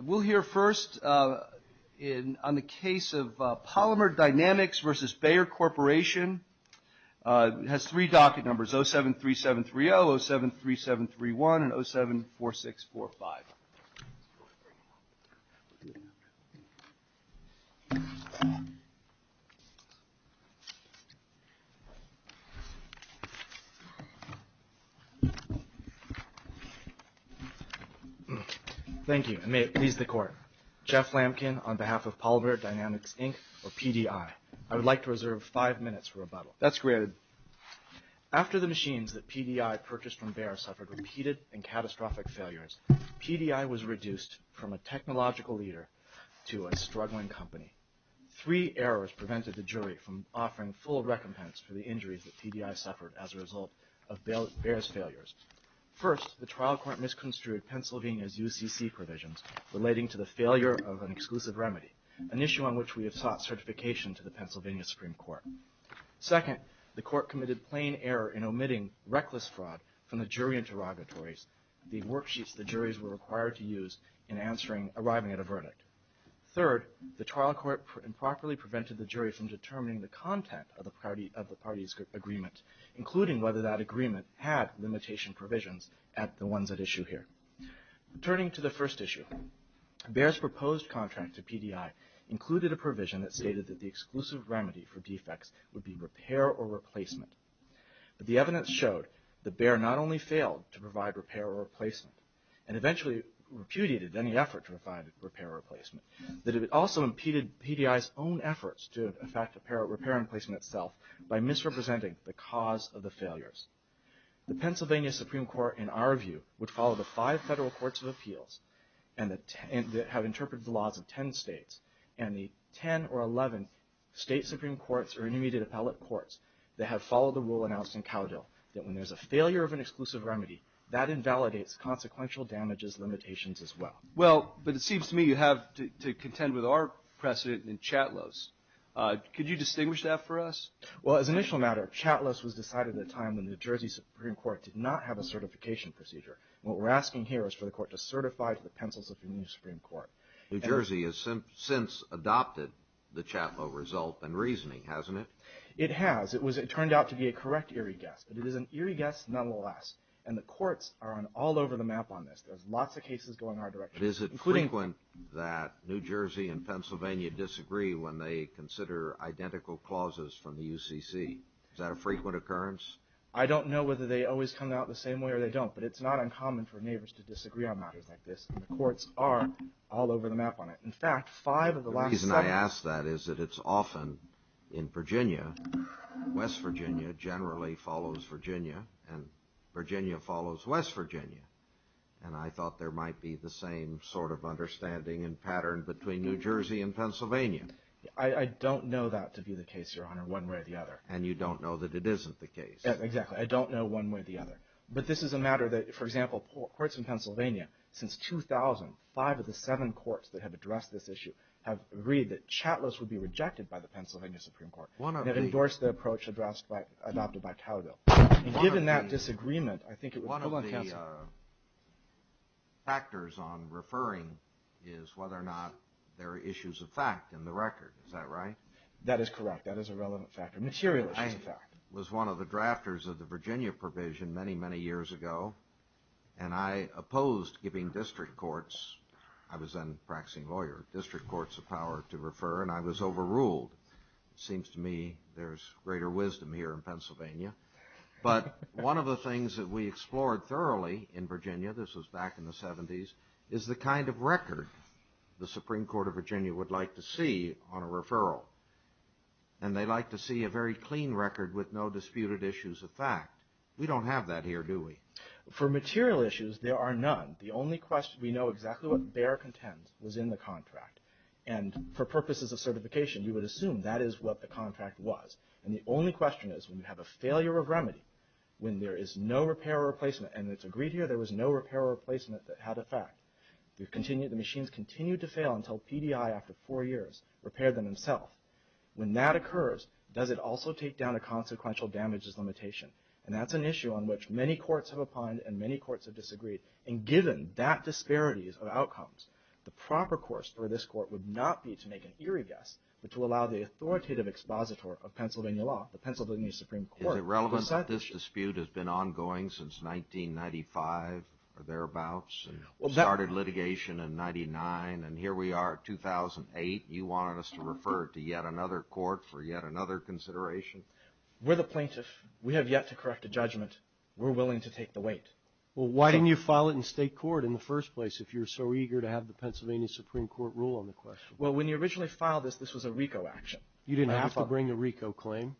We'll hear first on the case of Polymer Dynamics v. Bayer Corporation. It has three docket numbers, 073730, 073731, and 074645. Thank you, and may it please the court. Jeff Lampkin on behalf of Polymer Dynamics, Inc. or PDI. I would like to reserve five minutes for rebuttal. That's granted. After the machines that PDI purchased from Bayer suffered repeated and catastrophic failures, PDI was reduced from a technological leader to a struggling company. Three errors prevented the jury from offering full recompense for the injuries that PDI suffered as a result of Bayer's failures. First, the trial court misconstrued Pennsylvania's UCC provisions relating to the failure of an exclusive defect. Second, the trial court committed plain error in omitting reckless fraud from the jury interrogatories, the worksheets the juries were required to use in answering, arriving at a verdict. Third, the trial court improperly prevented the jury from determining the content of the party's agreement, including whether that agreement had limitation provisions at the ones at issue here. Returning to the first issue, Bayer's proposed contract to PDI included a provision that stated that the exclusive remedy for defects would be repair or replacement. But the evidence showed that Bayer not only failed to provide repair or replacement, and eventually repudiated any effort to provide repair or replacement, that it also impeded PDI's own efforts to repair and replace itself by misrepresenting the cause of the failures. The Pennsylvania Supreme Court, in our view, would follow the five federal courts of appeals that have interpreted the laws of the 10 or 11 state Supreme Courts or intermediate appellate courts that have followed the rule announced in Cowdell, that when there's a failure of an exclusive remedy, that invalidates consequential damages limitations as well. Well, but it seems to me you have to contend with our precedent in Chatelot's. Could you distinguish that for us? Well, as an initial matter, Chatelot's was decided at a time when the New Jersey Supreme Court did not have a certification procedure. What we're asking here is for the court to certify to the pencils of the new Supreme Court. New Jersey has since adopted the Chatelot result and reasoning, hasn't it? It has. It turned out to be a correct eerie guess, but it is an eerie guess nonetheless. And the courts are on all over the map on this. There's lots of cases going our direction. Is it frequent that New Jersey and Pennsylvania disagree when they consider identical clauses from the UCC? Is that a frequent occurrence? I don't know whether they always come out the same way or they don't, but it's not uncommon for neighbors to disagree on matters like this. The courts are all over the map on it. In fact, five of the last seven... The reason I ask that is that it's often in Virginia. West Virginia generally follows Virginia and Virginia follows West Virginia. And I thought there might be the same sort of understanding and pattern between New Jersey and Pennsylvania. I don't know that to be the case, Your Honor, one way or the other. And you don't know that it isn't the case. Exactly. I don't know one way or the other. But this is a matter that, for example, courts in Pennsylvania, since 2000, five of the seven courts that have addressed this issue have agreed that Chatelot's would be rejected by the Pennsylvania Supreme Court and have endorsed the approach adopted by Cowgill. And given that disagreement, I think it was... One of the factors on referring is whether or not there are issues of fact in the record. Is that right? That is correct. That is a relevant factor. Material issues of fact. I was one of the drafters of the Virginia provision many, many years ago, and I opposed giving district courts... I was then a practicing lawyer... District courts the power to refer, and I was overruled. It seems to me there's greater wisdom here in Pennsylvania. But one of the things that we explored thoroughly in Virginia, this was back in the 70s, is the kind of record the Supreme Court of Virginia would like to see on a referral. And they'd like to see a very clean record with no disputed issues of fact. We don't have that here, do we? For material issues, there are none. The only question we know exactly what Bayer contends was in the contract. And for purposes of certification, we would assume that is what the contract was. And the only question is, when you have a failure of remedy, when there is no repair or replacement, and it's agreed here there was no repair or replacement for four years, repaired them himself, when that occurs, does it also take down a consequential damages limitation? And that's an issue on which many courts have opined, and many courts have disagreed. And given that disparities of outcomes, the proper course for this court would not be to make an eerie guess, but to allow the authoritative expositor of Pennsylvania law, the Pennsylvania Supreme Court... Is it relevant that this dispute has been ongoing since 1995 or thereabouts? Started litigation in 99, and here we are at 2008. You want us to refer to yet another court for yet another consideration? We're the plaintiff. We have yet to correct a judgment. We're willing to take the weight. Well, why didn't you file it in state court in the first place, if you're so eager to have the Pennsylvania Supreme Court rule on the question? Well, when you originally filed this, this was a RICO action. You didn't have to bring the RICO claim.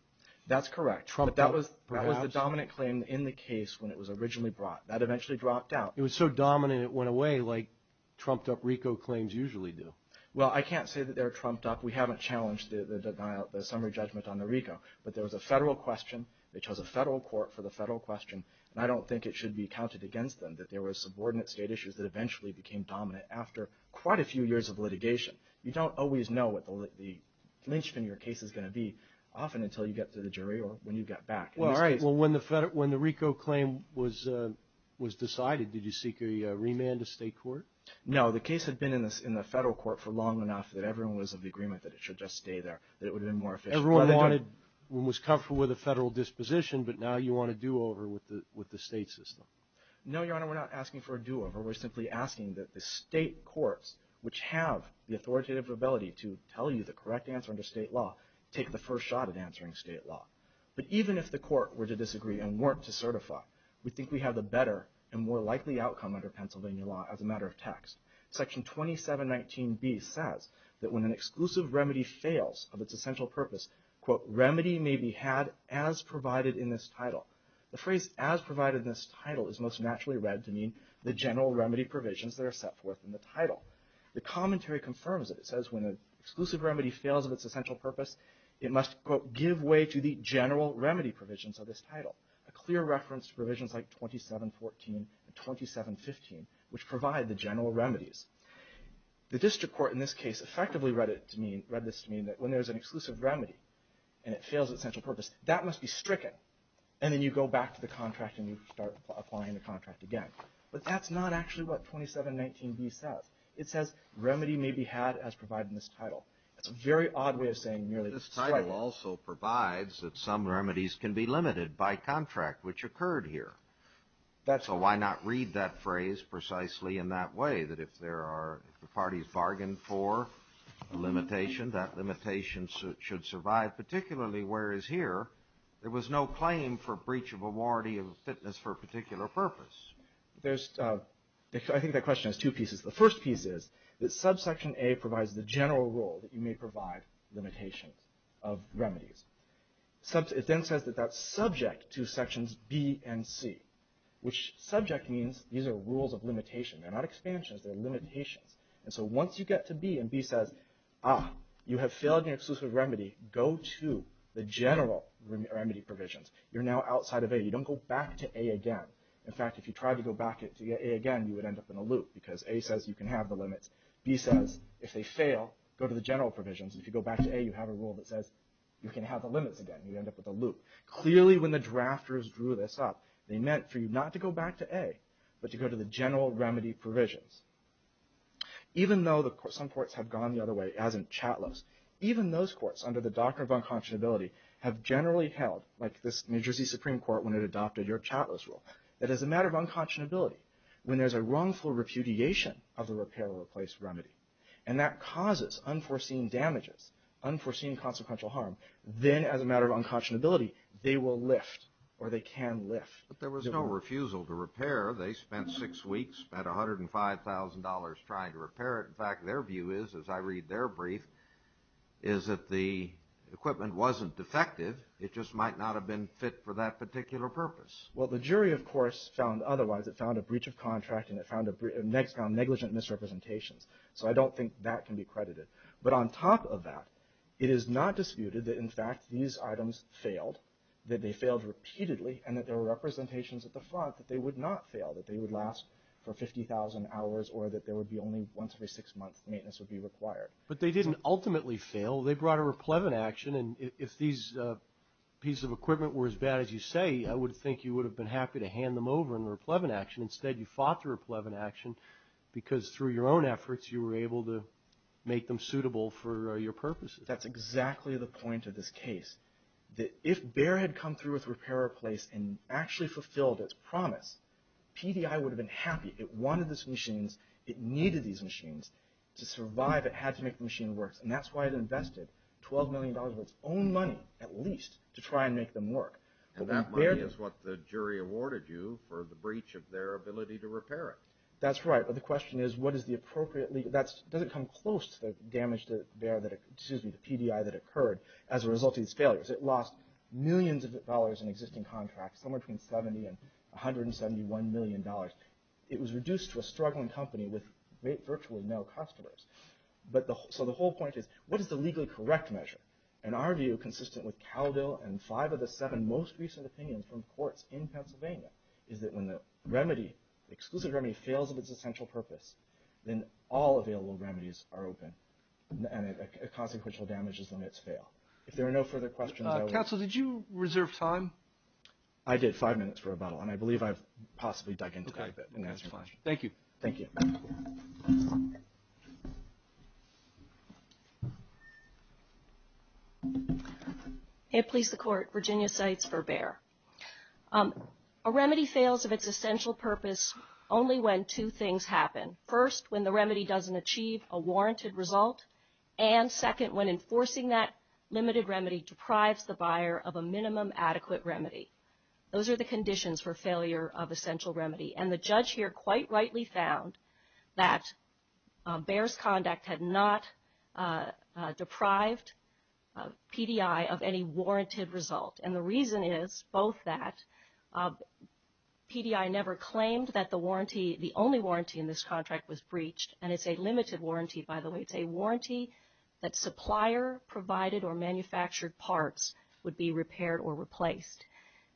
That's correct. But that was the dominant claim in the case when it was originally brought. That eventually dropped out. It was so dominant it went away like trumped up RICO claims usually do. Well, I can't say that they're trumped up. We haven't challenged the summary judgment on the RICO, but there was a federal question. They chose a federal court for the federal question, and I don't think it should be counted against them that there were subordinate state issues that eventually became dominant after quite a few years of litigation. You don't always know what the lynchpin in your case is going to be, often until you get to the jury or when you get back. Well, all right. Well, when the RICO claim was decided, did you seek a remand to state court? No, the case had been in the federal court for long enough that everyone was of the agreement that it should just stay there, that it would have been more efficient. Everyone was comfortable with the federal disposition, but now you want a do-over with the state system. No, Your Honor, we're not asking for a do-over. We're simply asking that the state courts, which have the authoritative ability to tell you the correct answer under state law, take the first shot at answering state law. But even if the court were to disagree and weren't to certify, we think we have a better and more likely outcome under Pennsylvania law as a matter of text. Section 2719B says that when an exclusive remedy fails of its essential purpose, quote, remedy may be had as provided in this title. The phrase as provided in this title is most naturally read to mean the general remedy provisions that are set forth in the title. The commentary confirms it. It says when an exclusive remedy fails of its essential purpose, it must, quote, give way to the general remedy provisions of this title. A clear reference to provisions like 2714 and 2715, which provide the general remedies. The district court in this case effectively read this to mean that when there's an exclusive remedy and it fails its essential purpose, that must be stricken. And then you go back to the contract and you start applying the contract again. But that's not actually what 2719B says. It says remedy may be had as provided in this title. It's a very odd way of saying nearly. This title also provides that some remedies can be limited by contract, which occurred here. So why not read that phrase precisely in that way, that if there are, if the parties bargained for a limitation, that limitation should survive. Particularly whereas here, there was no claim for breach of a warranty of fitness for a particular purpose. There's, I think that question has two pieces. The first piece is that subsection A provides the general rule that you may provide limitations of remedies. Sub, it then says that that's subject to sections B and C, which subject means these are rules of limitation. They're not expansions, they're limitations. And so once you get to B and B says, ah, you have failed your exclusive remedy, go to the general remedy provisions. You're now outside of A. You don't go back to A again. In fact, if you tried to go back to A again, you would end up in a loop because A says you can have the limits. B says if they fail, go to the general provisions. If you go back to A, you have a rule that says you can have the limits again. You end up with a loop. Clearly when the drafters drew this up, they meant for you not to go back to A, but to go to the general remedy provisions. Even though some courts have gone the other way, as in Chatlis, even those courts under the doctrine of unconscionability have generally held, like this New Jersey Supreme Court when it adopted your Chatlis rule. That as a matter of unconscionability, when there's a wrongful repudiation of the repair or replace remedy, and that causes unforeseen damages, unforeseen consequential harm, then as a matter of unconscionability, they will lift or they can lift. But there was no refusal to repair. They spent six weeks, spent $105,000 trying to repair it. In fact, their view is, as I read their brief, is that the equipment wasn't defective. It just might not have been fit for that particular purpose. Well, the jury, of course, found otherwise. It found a breach of contract, and it found negligent misrepresentations. So I don't think that can be credited. But on top of that, it is not disputed that, in fact, these items failed, that they failed repeatedly, and that there were representations at the front that they would not fail, that they would last for 50,000 hours or that there would be only once every six months maintenance would be required. But they didn't ultimately fail. They brought a replevant action. And if these pieces of equipment were as bad as you say, I would think you would have been happy to hand them over in a replevant action. Instead, you fought the replevant action, because through your own efforts, you were able to make them suitable for your purposes. That's exactly the point of this case, that if Bayer had come through with repair in place and actually fulfilled its promise, PDI would have been happy. It wanted these machines. It needed these machines to survive. It had to make the machine work. And that's why it invested $12 million of its own money, at least, to try and make them work. And that money is what the jury awarded you for the breach of their ability to repair it. That's right. But the question is, what is the appropriate—that doesn't come close to the damage to Bayer that—excuse me, the PDI that occurred as a result of these failures. It lost millions of dollars in existing contracts, somewhere between $70 and $171 million. It was reduced to a struggling company with virtually no customers. So the whole point is, what is the legally correct measure? And our view, consistent with Cowdell and five of the seven most recent opinions from courts in Pennsylvania, is that when the remedy, the exclusive remedy, fails of its essential purpose, then all available remedies are open, and a consequential damage is when it's failed. If there are no further questions, I will— Counsel, did you reserve time? I did five minutes for rebuttal, and I believe I've possibly dug into that a bit in answering your question. Thank you. Thank you. It pleased the Court. Virginia Seitz for Bayer. A remedy fails of its essential purpose only when two things happen. First, when the remedy doesn't achieve a warranted result, and second, when enforcing that limited remedy deprives the buyer of a minimum adequate remedy. Those are the conditions for failure of essential remedy. And the judge here quite rightly found that Bayer's conduct had not deprived PDI of any warranted result. And the reason is both that PDI never claimed that the warranty, the only warranty in this contract, was breached. And it's a limited warranty, by the way. It's a warranty that supplier-provided or manufactured parts would be repaired or replaced.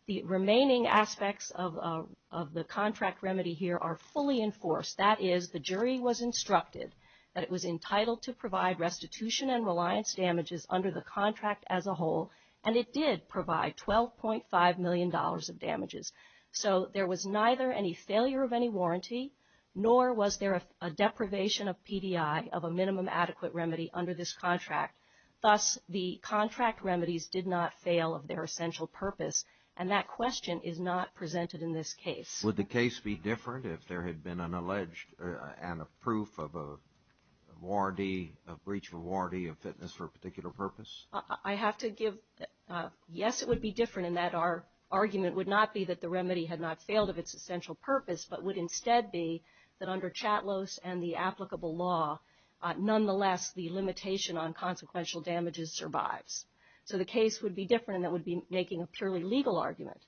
The remaining aspects of the contract remedy here are fully enforced. That is, the jury was instructed that it was entitled to provide restitution and reliance damages under the contract as a whole. And it did provide $12.5 million of damages. So there was neither any failure of any warranty, nor was there a deprivation of PDI of a minimum adequate remedy under this contract. Thus, the contract remedies did not fail of their essential purpose. And that question is not presented in this case. Would the case be different if there had been an alleged and a proof of a warranty, a breach of a warranty of fitness for a particular purpose? I have to give, yes, it would be different in that our argument would not be that the remedy had not failed of its essential purpose, but would instead be that under CHATLOS and the applicable law, nonetheless, the limitation on consequential damages survives. So the case would be different in that it would be making a purely legal argument.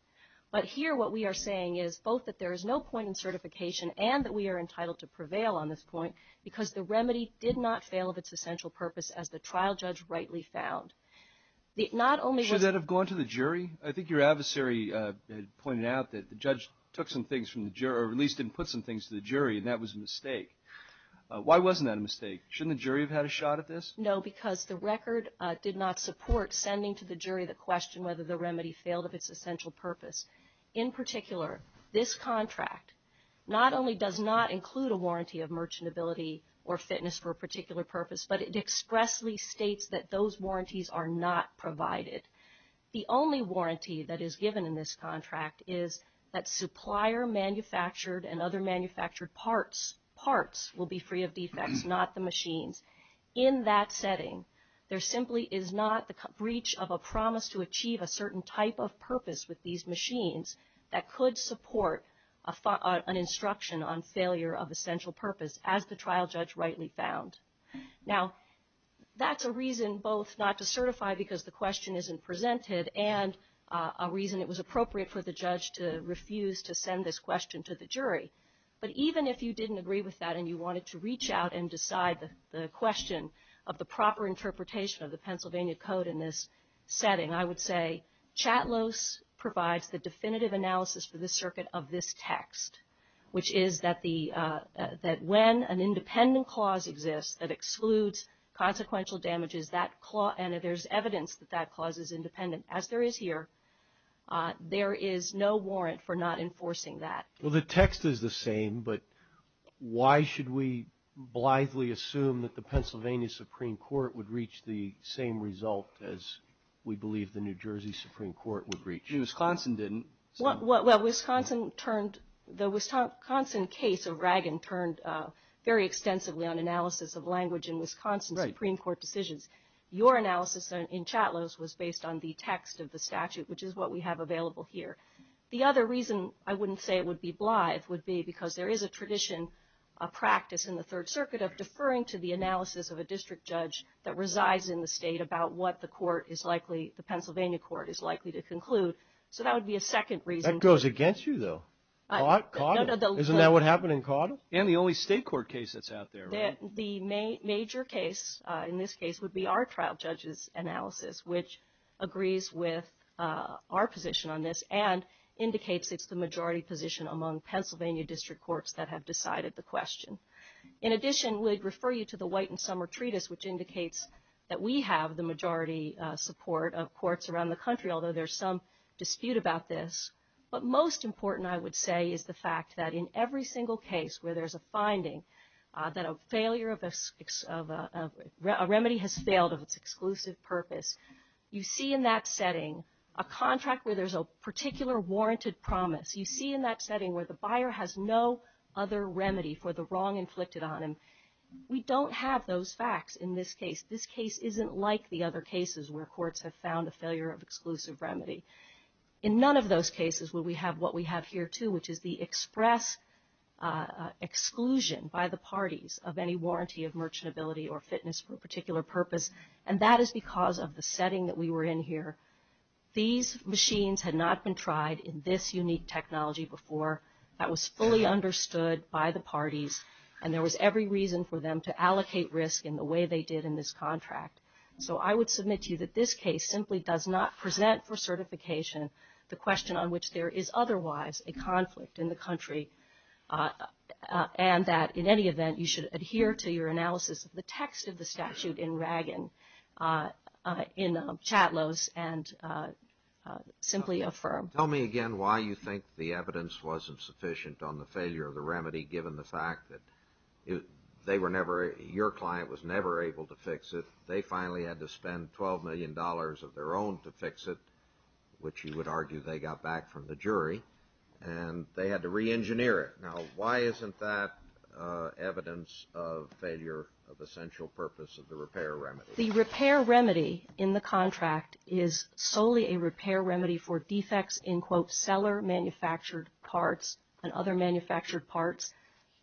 But here, what we are saying is both that there is no point in certification and that we are entitled to prevail on this point, because the remedy did not fail of its essential purpose, as the trial judge rightly found. Should that have gone to the jury? I think your adversary pointed out that the judge took some things from the jury, or at least didn't put some things to the jury, and that was a mistake. Why wasn't that a mistake? Shouldn't the jury have had a shot at this? No, because the record did not support sending to the jury the question whether the remedy failed of its essential purpose. In particular, this contract not only does not include a warranty of merchantability or fitness for a particular purpose, but it expressly states that those warranties are not provided. The only warranty that is given in this contract is that supplier-manufactured and other manufactured parts will be free of defects, not the machines. In that setting, there simply is not the breach of a promise to achieve a certain type of purpose with these machines that could support an instruction on failure of essential purpose, as the trial judge rightly found. Now, that's a reason both not to certify because the question isn't presented and a reason it was appropriate for the judge to refuse to send this question to the jury. But even if you didn't agree with that and you wanted to reach out and decide the question of the proper interpretation of the Pennsylvania Code in this setting, I would say CHATLOS provides the definitive analysis for the circuit of this text, which is that when an independent clause exists that excludes consequential damages, and if there's evidence that that clause is independent, as there is here, there is no warrant for not enforcing that. Well, the text is the same, but why should we blithely assume that the Pennsylvania Supreme Court would reach the same result as we believe the New Jersey Supreme Court would reach? Wisconsin didn't. Well, Wisconsin turned, the Wisconsin case of Ragon turned very extensively on analysis of language in Wisconsin Supreme Court decisions. Your analysis in CHATLOS was based on the text of the statute, which is what we have available here. The other reason I wouldn't say it would be blithe would be because there is a tradition, a practice in the Third Circuit of deferring to the analysis of a district judge that resides in the state about what the court is likely, the Pennsylvania court is likely to conclude. So that would be a second reason. That goes against you, though. CHATLOS, isn't that what happened in CHATLOS? And the only state court case that's out there. The major case in this case would be our trial judge's analysis, which agrees with our position on this and indicates it's the majority position among Pennsylvania district courts that have decided the question. In addition, we'd refer you to the White and Summer Treatise, which indicates that we have the majority support of courts around the country, although there's some dispute about this. But most important, I would say, is the fact that in every single case where there's a finding that a failure of a remedy has failed of its exclusive purpose, you see in that setting a contract where there's a particular warranted promise. You see in that setting where the buyer has no other remedy for the wrong inflicted on him. We don't have those facts in this case. This case isn't like the other cases where courts have found a failure of exclusive remedy. In none of those cases will we have what we have here too, which is the express exclusion by the parties of any warranty of merchantability or fitness for a particular purpose. And that is because of the setting that we were in here. These machines had not been tried in this unique technology before. That was fully understood by the parties. And there was every reason for them to allocate risk in the way they did in this contract. So I would submit to you that this case simply does not present for certification the question on which there is otherwise a conflict in the country, and that in any event, you should adhere to your analysis of the text of the statute in Ragon, in Chatlos, and simply affirm. Tell me again why you think the evidence wasn't sufficient on the failure of the remedy, given the fact that they were never, your client was never able to fix it. They finally had to spend $12 million of their own to fix it, which you would argue they got back from the jury and they had to re-engineer it. Now, why isn't that evidence of failure of essential purpose of the repair remedy? The repair remedy in the contract is solely a repair remedy for defects in, quote, seller manufactured parts and other manufactured parts,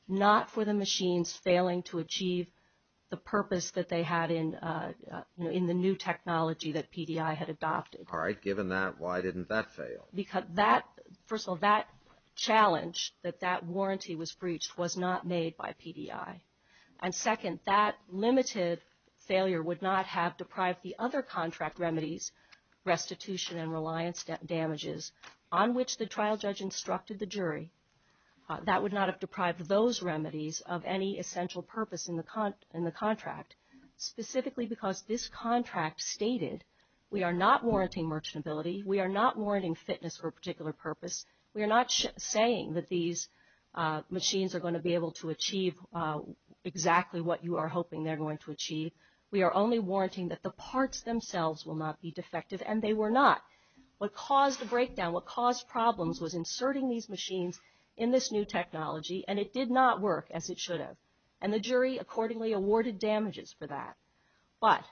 not for the machines failing to achieve the purpose that they had in, you know, in the new technology that PDI had adopted. All right. Given that, why didn't that fail? Because that, first of all, that challenge that that warranty was breached was not made by PDI. And second, that limited failure would not have deprived the other contract remedies, restitution and reliance damages, on which the trial judge instructed the jury. That would not have deprived those remedies of any essential purpose in the contract, specifically because this contract stated, we are not warranting merchantability. We are not warranting fitness for a particular purpose. We are not saying that these machines are going to be able to achieve exactly what you are hoping they're going to achieve. We are only warranting that the parts themselves will not be defective, and they were not. What caused the breakdown, what caused problems, was inserting these machines in this new technology, and it did not work as it should have. And the jury accordingly awarded damages for that. But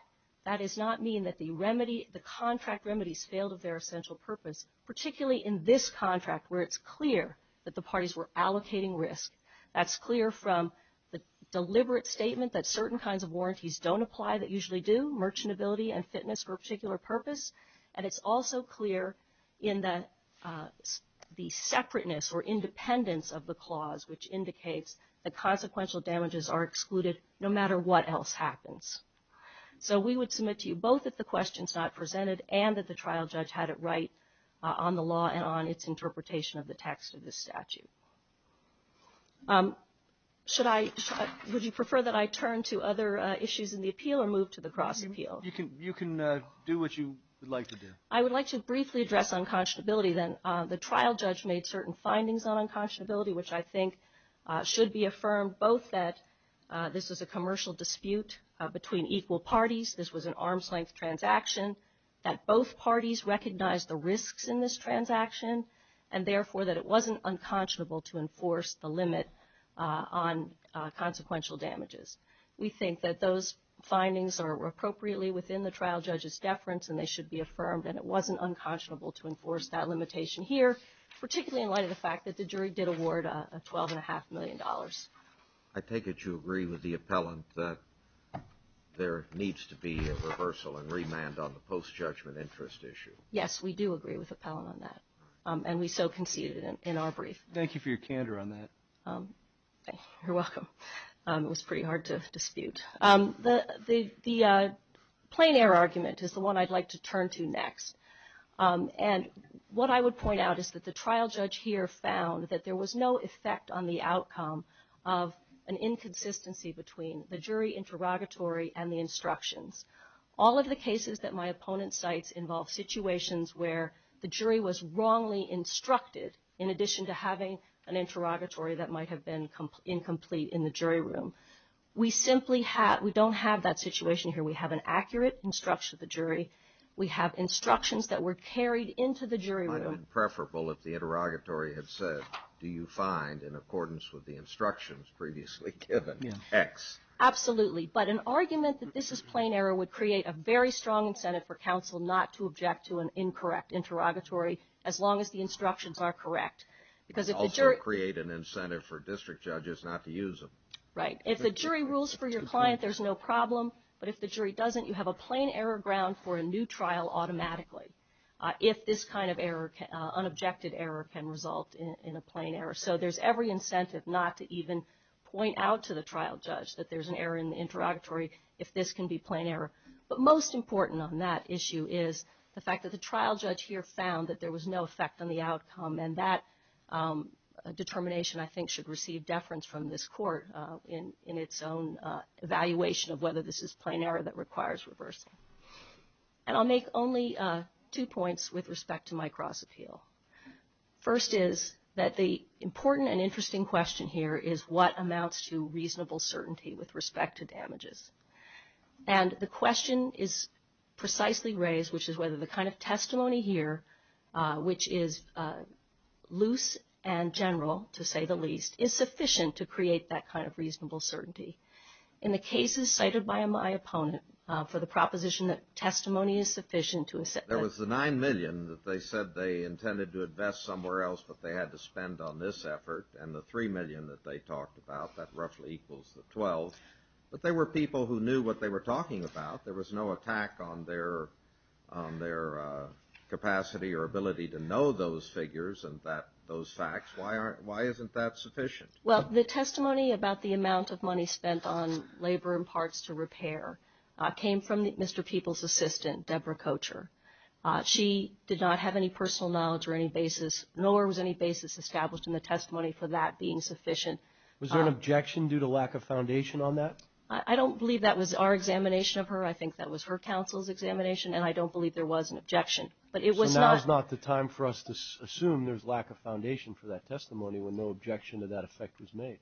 that does not mean that the contract remedies failed of their essential purpose, particularly in this contract, where it's clear that the parties were allocating risk. That's clear from the deliberate statement that certain kinds of warranties don't apply that usually do, merchantability and fitness for a particular purpose. And it's also clear in the separateness or independence of the clause, which indicates that consequential damages are excluded no matter what else happens. So we would submit to you both that the question is not presented and that the trial judge had it right on the law and on its interpretation of the text of the statute. Should I, would you prefer that I turn to other issues in the appeal or move to the cross appeal? You can do what you would like to do. I would like to briefly address unconscionability then. The trial judge made certain findings on unconscionability, which I think should be affirmed both that this is a commercial dispute between equal parties. This was an arm's length transaction that both parties recognize the risks in this transaction and therefore that it wasn't unconscionable to enforce the limit on consequential damages. We think that those findings are appropriately within the trial judge's deference and they should be affirmed and it wasn't unconscionable to enforce that limitation here, particularly in light of the fact that the jury did award a twelve and a half million dollars. I take it you agree with the appellant that there needs to be a reversal and remand on the post-judgment interest issue. Yes, we do agree with the appellant on that and we so conceded in our brief. Thank you for your candor on that. You're welcome. It was pretty hard to dispute. The plein air argument is the one I'd like to turn to next. And what I would point out is that the trial judge here found that there was no effect on the outcome of an inconsistency between the jury interrogatory and the instructions. All of the cases that my opponent cites involve situations where the jury was wrongly instructed in addition to having an interrogatory that might have been incomplete in the jury room. We simply have, we don't have that situation here. We have an accurate instruction of the jury. We have instructions that were carried into the jury room. Preferable if the interrogatory had said, do you find in accordance with the instructions previously given X. Absolutely. But an argument that this is plain error would create a very strong incentive for counsel not to object to an incorrect interrogatory as long as the instructions are correct. Because it would create an incentive for district judges not to use them. Right. If the jury rules for your client, there's no problem. But if the jury doesn't, you have a plain error ground for a new trial automatically. If this kind of error, unobjected error can result in a plain error. So there's every incentive not to even point out to the trial judge that there's an error in the interrogatory if this can be plain error. But most important on that issue is the fact that the trial judge here found that there was no effect on the outcome. And that determination, I think, should receive deference from this court in its own evaluation of whether this is plain error that requires reversing. And I'll make only two points with respect to my cross appeal. First is that the important and interesting question here is what amounts to reasonable certainty with respect to damages. And the question is precisely raised, which is whether the kind of testimony here, which is loose and general, to say the least, is sufficient to create that kind of reasonable certainty. In the cases cited by my opponent for the proposition that testimony is sufficient to assert. There was the nine million that they said they intended to invest somewhere else, but they had to spend on this effort. And the three million that they talked about, that roughly equals the 12. But they were people who knew what they were talking about. There was no attack on their capacity or ability to know those figures and those facts. Why isn't that sufficient? Well, the testimony about the amount of money spent on labor and parts to repair came from Mr. People's assistant, Deborah Kocher. She did not have any personal knowledge or any basis, nor was any basis established in the testimony for that being sufficient. Was there an objection due to lack of foundation on that? I don't believe that was our examination of her. I think that was her counsel's examination. And I don't believe there was an objection. But it was not the time for us to assume there's lack of foundation for that testimony when no objection to that effect was made.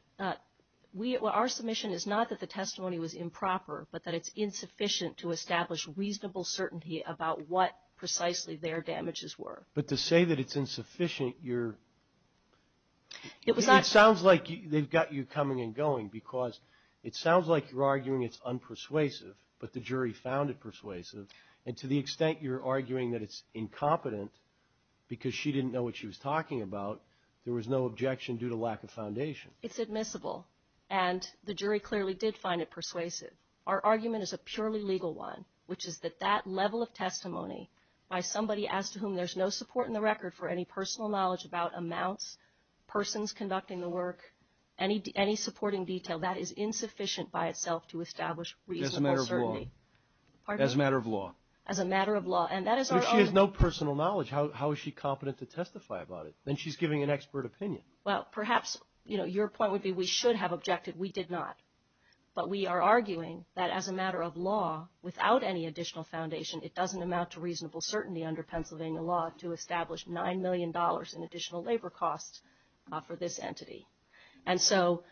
Our submission is not that the testimony was improper, but that it's insufficient to establish reasonable certainty about what precisely their damages were. But to say that it's insufficient, you're... It sounds like they've got you coming and going because it sounds like you're arguing it's unpersuasive, but the jury found it persuasive. And to the extent you're arguing that it's incompetent because she didn't know what she was talking about, there was no objection due to lack of foundation. It's admissible. And the jury clearly did find it persuasive. Our argument is a purely legal one, which is that that level of testimony by somebody as to whom there's no support in the record for any personal knowledge about amounts, persons conducting the work, any supporting detail, that is insufficient by itself to establish reasonable certainty. As a matter of law. As a matter of law. And that is our... If she has no personal knowledge, how is she competent to testify about it? Then she's giving an expert opinion. Well, perhaps, you know, your point would be we should have objected. We did not. But we are arguing that as a matter of law, without any additional foundation, it doesn't amount to reasonable certainty under Pennsylvania law to establish $9 million in additional labor costs for this entity. And so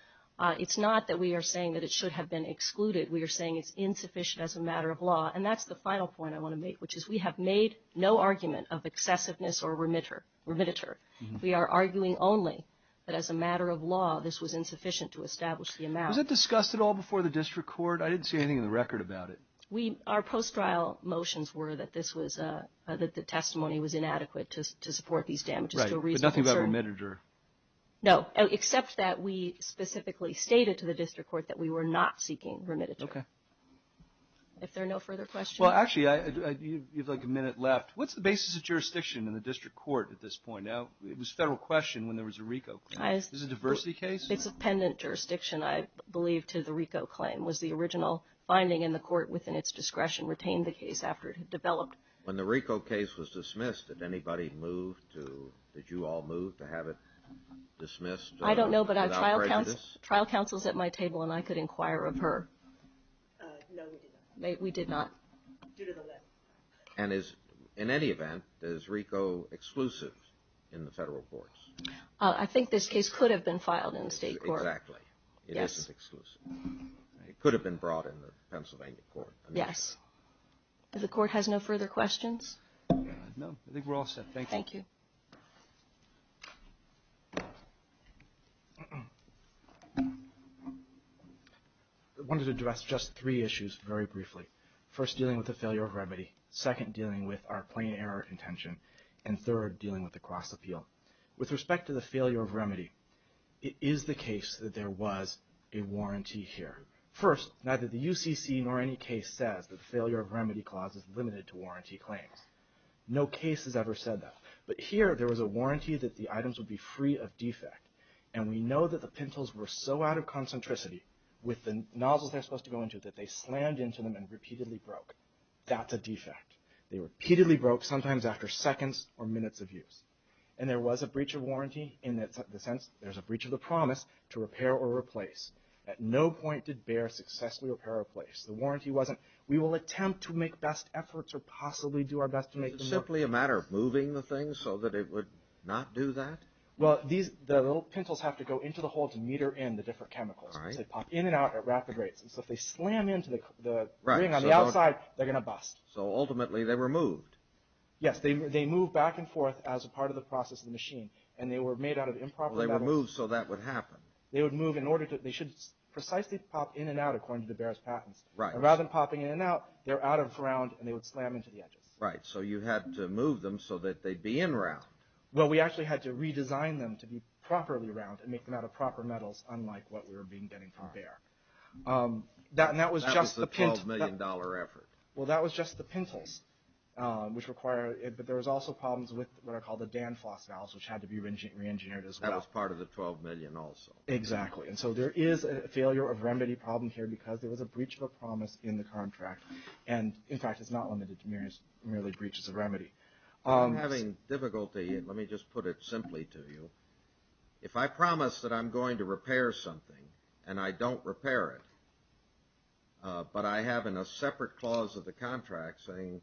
it's not that we are saying that it should have been excluded. We are saying it's insufficient as a matter of law. And that's the final point I want to make, which is we have made no argument of excessiveness or remitter. We are arguing only that as a matter of law, this was insufficient to establish the amount. Was it discussed at all before the district court? I didn't see anything in the record about it. We, our post-trial motions were that this was, that the testimony was inadequate to support these damages to a reasonable certainty. Right, but nothing about remitter. No, except that we specifically stated to the district court that we were not seeking remitter. Okay. If there are no further questions. Well, actually, you have like a minute left. What's the basis of jurisdiction in the district court at this point? Now, it was a federal question when there was a RICO claim. Is this a diversity case? It's a pendant jurisdiction, I believe, to the RICO claim. Was the original finding in the court within its discretion retained the case after it had developed? When the RICO case was dismissed, did anybody move to, did you all move to have it dismissed? I don't know, but our trial counsel is at my table, and I could inquire of her. No, we did not. We did not. Due to the limit. And is, in any event, is RICO exclusive in the federal courts? I think this case could have been filed in the state court. Exactly. It isn't exclusive. It could have been brought in the Pennsylvania court. Yes. If the court has no further questions. No, I think we're all set. Thank you. I wanted to address just three issues very briefly. First, dealing with the failure of remedy. Second, dealing with our plain error intention. And third, dealing with the cross-appeal. With respect to the failure of remedy, it is the case that there was a warranty here. First, neither the UCC nor any case says that the failure of remedy clause is limited to warranty claims. No case has ever said that. But here, there was a warranty that the items would be free of defect. And we know that the pencils were so out of concentricity with the nozzles they're supposed to go into, that they slammed into them and repeatedly broke. That's a defect. They repeatedly broke, sometimes after seconds or minutes of use. And there was a breach of warranty in the sense, there's a breach of the promise to repair or replace. At no point did Bayer successfully repair or replace. The warranty wasn't, we will attempt to make best efforts or possibly do our best to make the most of this. Is it simply a matter of moving the things so that it would not do that? Well, the little pencils have to go into the hole to meter in the different chemicals. All right. So they pop in and out at rapid rates. And so if they slam into the ring on the outside, they're going to bust. So ultimately, they were moved. Yes, they move back and forth as a part of the process of the machine. And they were made out of improper metals. They were moved so that would happen. They would move in order to, they should precisely pop in and out according to the Bayer's patents. Right. And rather than popping in and out, they're out of ground and they would slam into the edges. Right. So you had to move them so that they'd be in round. Well, we actually had to redesign them to be properly round and make them out of proper metals, unlike what we were getting from Bayer. That was just the $12 million effort. Well, that was just the pencils, which require it. But there was also problems with what are called the Danfoss valves, which had to be re-engineered as well. That was part of the $12 million also. Exactly. And so there is a failure of remedy problem here because there was a breach of a promise in the contract. And in fact, it's not limited to merely breaches of remedy. I'm having difficulty, and let me just put it simply to you. If I promise that I'm going to repair something and I don't repair it, but I have in a separate clause of the contract saying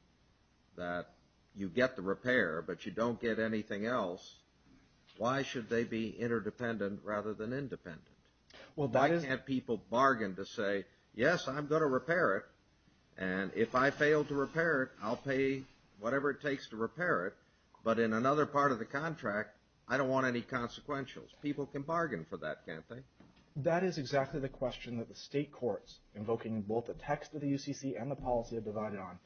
that you get the repair, but you don't get anything else, why should they be interdependent rather than independent? Well, why can't people bargain to say, yes, I'm going to repair it, and if I fail to repair it, I'll pay whatever it takes to repair it. But in another part of the contract, I don't want any consequentials. People can bargain for that, can't they? That is exactly the question that the state courts, invoking both the text of the UCC and the policy I've divided on,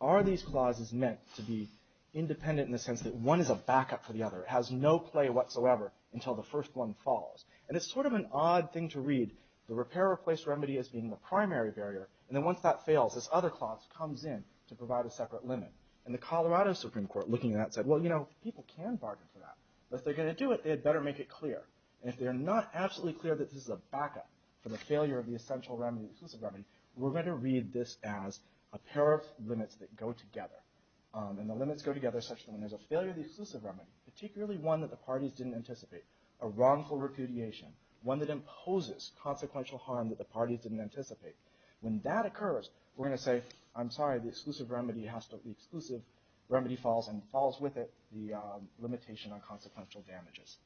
are these clauses meant to be independent in the sense that one is a backup for the other? It has no play whatsoever until the first one falls. And it's sort of an odd thing to read. The repair replaced remedy as being the primary barrier. And then once that fails, this other clause comes in to provide a separate limit. And the Colorado Supreme Court, looking at that, said, well, you know, people can bargain for that, but if they're going to do it, they had better make it clear. And if they're not absolutely clear that this is a backup for the failure of the essential remedy, the exclusive remedy, we're going to read this as a pair of limits that go together. And the limits go together such that when there's a failure of the exclusive remedy, particularly one that the parties didn't anticipate, a wrongful repudiation, one that imposes consequential harm that the parties didn't anticipate. When that occurs, we're going to say, I'm sorry, the exclusive remedy falls and falls with it, the limitation on consequential damages.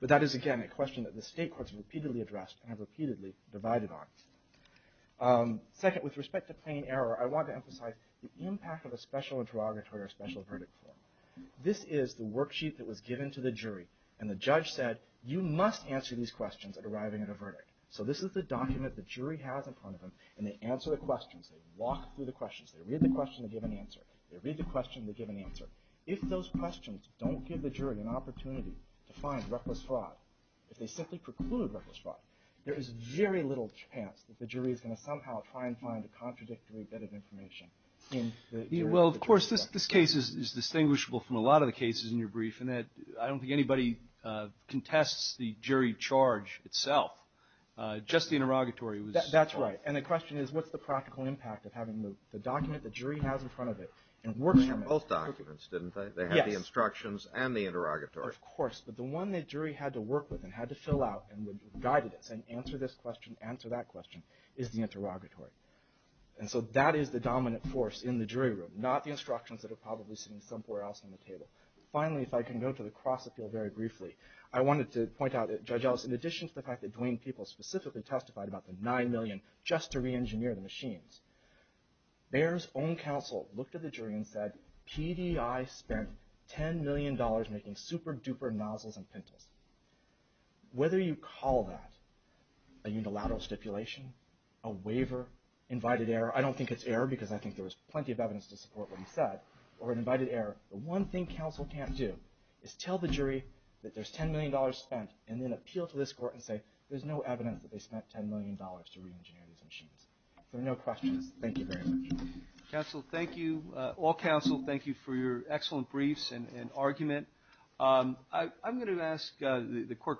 But that is, again, a question that the state courts have repeatedly addressed and have repeatedly divided on. Second, with respect to plain error, I want to emphasize the impact of a special interrogatory or special verdict form. This is the worksheet that was given to the jury. And the judge said, you must answer these questions at arriving at a verdict. So this is the document the jury has in front of them, and they answer the questions, they walk through the questions, they read the question, they give an answer, they read the question, they give an answer. If those questions don't give the jury an opportunity to find reckless fraud, if they simply preclude reckless fraud, there is very little chance that the jury is going to somehow try and find a contradictory bit of information in the jury. Just the interrogatory was. That's right. And the question is, what's the practical impact of having the document the jury has in front of it and working on both documents? Didn't they have the instructions and the interrogatory? Of course. But the one that jury had to work with and had to fill out and guided us and answer this question, answer that question is the interrogatory. And so that is the dominant force in the jury room, not the instructions that are probably sitting somewhere else on the table. Finally, if I can go to the cross appeal very briefly, I wanted to point out that Judge Ellis, in addition to the fact that Dwayne Peoples specifically testified about the $9 million just to reengineer the machines, Bayer's own counsel looked at the jury and said, PDI spent $10 million making super duper nozzles and pintles. Whether you call that a unilateral stipulation, a waiver, invited error, I don't think it's error because I think there was plenty of evidence to support what he said, or an invited error. The one thing counsel can't do is tell the jury that there's $10 million spent and then appeal to this court and say, there's no evidence that they spent $10 million to reengineer these machines. There are no questions. Thank you very much. Counsel, thank you. All counsel, thank you for your excellent briefs and argument. I'm going to ask the court.